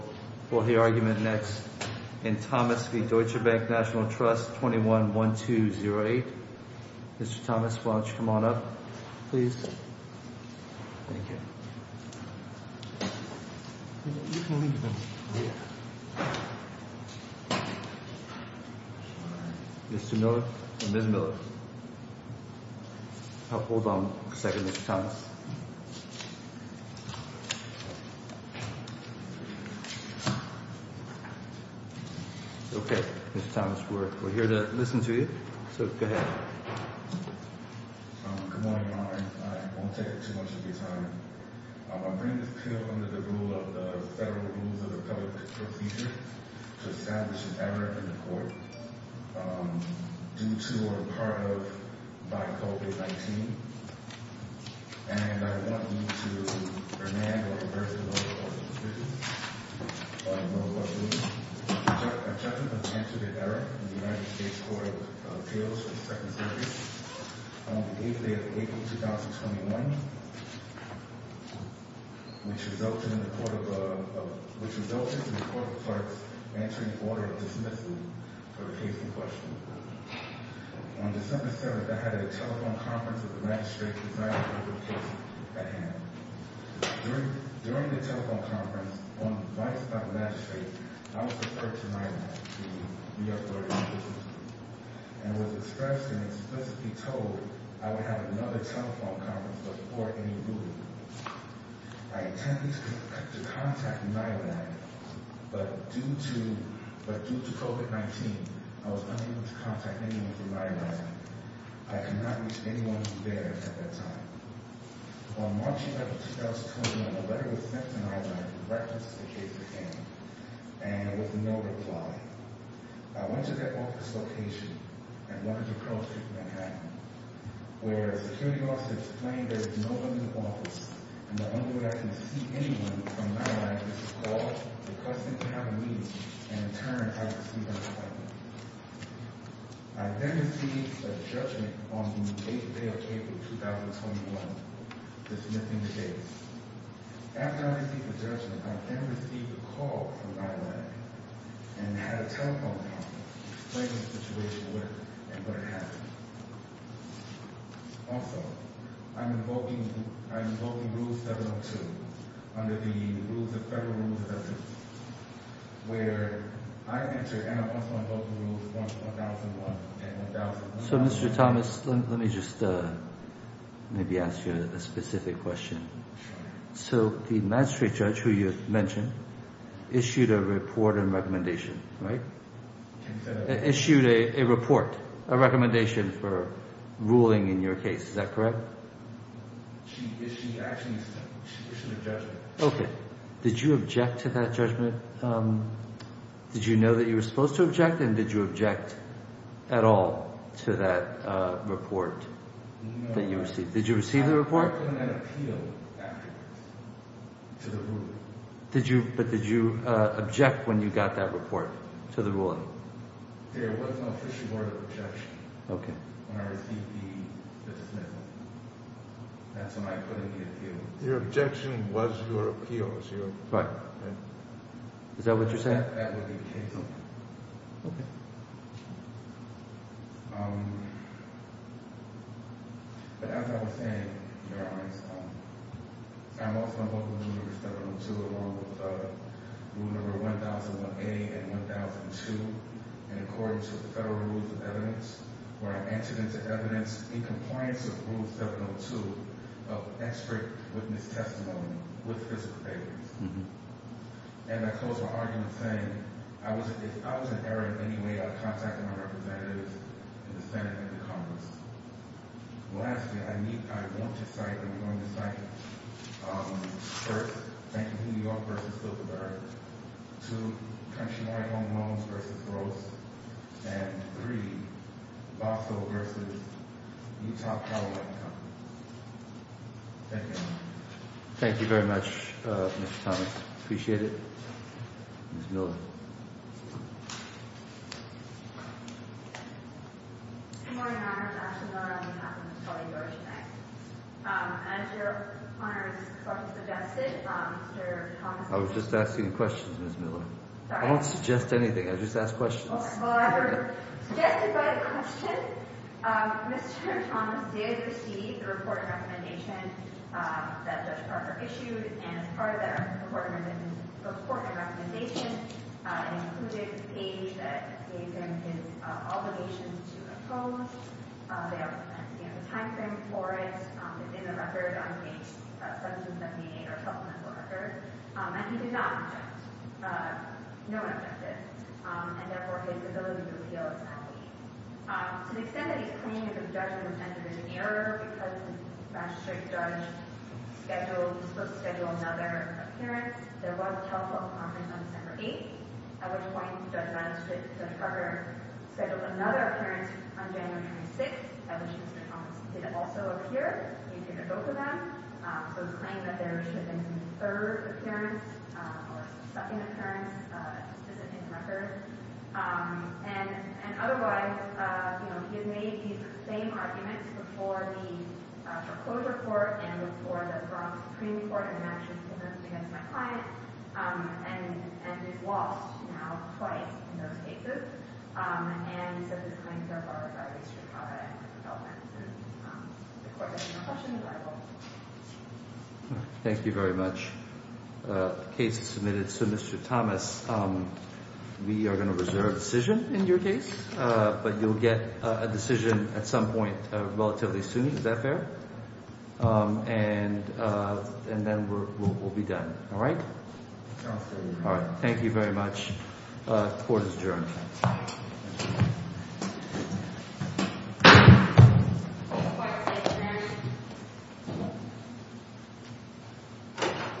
Will hear argument next in Thomas v. Deutsche Bank National Trust, 21-1208. Mr. Thomas, why don't you come on up, please? Thank you. You can leave them here. Mr. Miller? Ms. Miller? Hold on a second, Mr. Thomas. Okay, Mr. Thomas, we're here to listen to you, so go ahead. Good morning, Your Honor. I won't take up too much of your time. I bring this appeal under the rule of the Federal Rules of the Public Procedure to establish an error in the court due to or a part of by COVID-19. And I want you to demand or reverse the law in this case. I know what you mean. Objection has been answered in error in the United States Court of Appeals for the Second Circuit on the 8th day of April, 2021, which resulted in the Court of – which resulted in the Court of Arts answering Order Dismissal for the case in question. On December 7th, I had a telephone conference with the Magistrate to decide on the case at hand. During the telephone conference, on advice by the Magistrate, I was referred to NILAD, the New York Court of Appeals, and was expressed and explicitly told I would have another telephone conference before any ruling. I attempted to contact NILAD, but due to COVID-19, I was unable to contact anyone from NILAD. I could not reach anyone there at that time. On March 11th, 2021, a letter was sent to NILAD in reference to the case at hand, and with no reply. I went to their office location at 100 Crow Street, Manhattan, where a security officer explained there was no one in the office and the only way I could see anyone from NILAD was to call the Customs Cabinet and in turn, I could see them talking. I then received a judgment on the 8th day of April, 2021, dismissing the case. After I received the judgment, I then received a call from NILAD and had a telephone conference explaining the situation and what had happened. Also, I am invoking Rule 702 under the Federal Rules of Justice, where I enter and I'm also invoking Rules 1001 and 1002. So, Mr. Thomas, let me just maybe ask you a specific question. So the magistrate judge who you mentioned issued a report and recommendation, right? Issued a report, a recommendation for ruling in your case. Is that correct? She actually issued a judgment. Okay. Did you object to that judgment? Did you know that you were supposed to object and did you object at all to that report that you received? Did you receive the report? Did you, but did you object when you got that report to the ruling? Okay. Your objection was your appeal. Right. Is that what you're saying? That would be the case. Okay. But as I was saying, Your Honor, I'm also invoking Rule 702 along with Rule 1001A and 1002. And according to the Federal Rules of Evidence, where I entered into evidence in compliance with Rule 702 of expert witness testimony with physical evidence. And I close my argument saying, if I was in error in any way, I would contact my representatives in the Senate and the Congress. Lastly, I need, I want to cite, I'm going to cite, first, Bank of New York v. Bilderberg. Two, Countrywide Home Loans v. Gross. And three, Bosco v. Utah Power and Company. Thank you. Thank you very much, Mr. Thomas. Appreciate it. Ms. Miller. I was just asking questions, Ms. Miller. I don't suggest anything. I just ask questions. I'm just going to say a few things. I mean, there's a number of things that Judge Parker issued, and as part of that, the court made his report and recommendation and included a page that gave him his obligations to oppose. They also mentioned, you know, a timeframe for it. It's in the record on Page 1778, our supplemental record. And he did not object, no one objected. And therefore, his ability to appeal is not the case. To the extent that he's claiming that the judgment was entered in error because the magistrate judge scheduled, was supposed to schedule another appearance, there was a telephone conference on December 8th, at which point Judge Parker scheduled another appearance on January 26th, at which this conference did also appear. He appeared at both of them. So it's claimed that there should have been a third appearance, or a second appearance, just as it is in the record. And otherwise, you know, he had made these same arguments before the foreclosure court and before the Bronx Supreme Court in the matches against my client, and he's lost now twice in those cases. And so his claims are borrowed by the district court. Thank you very much. The case is submitted. So Mr. Thomas, we are going to reserve a decision in your case, but you'll get a decision at some point relatively soon. Is that fair? And then we'll be done. All right? All right. Thank you very much. Court is adjourned.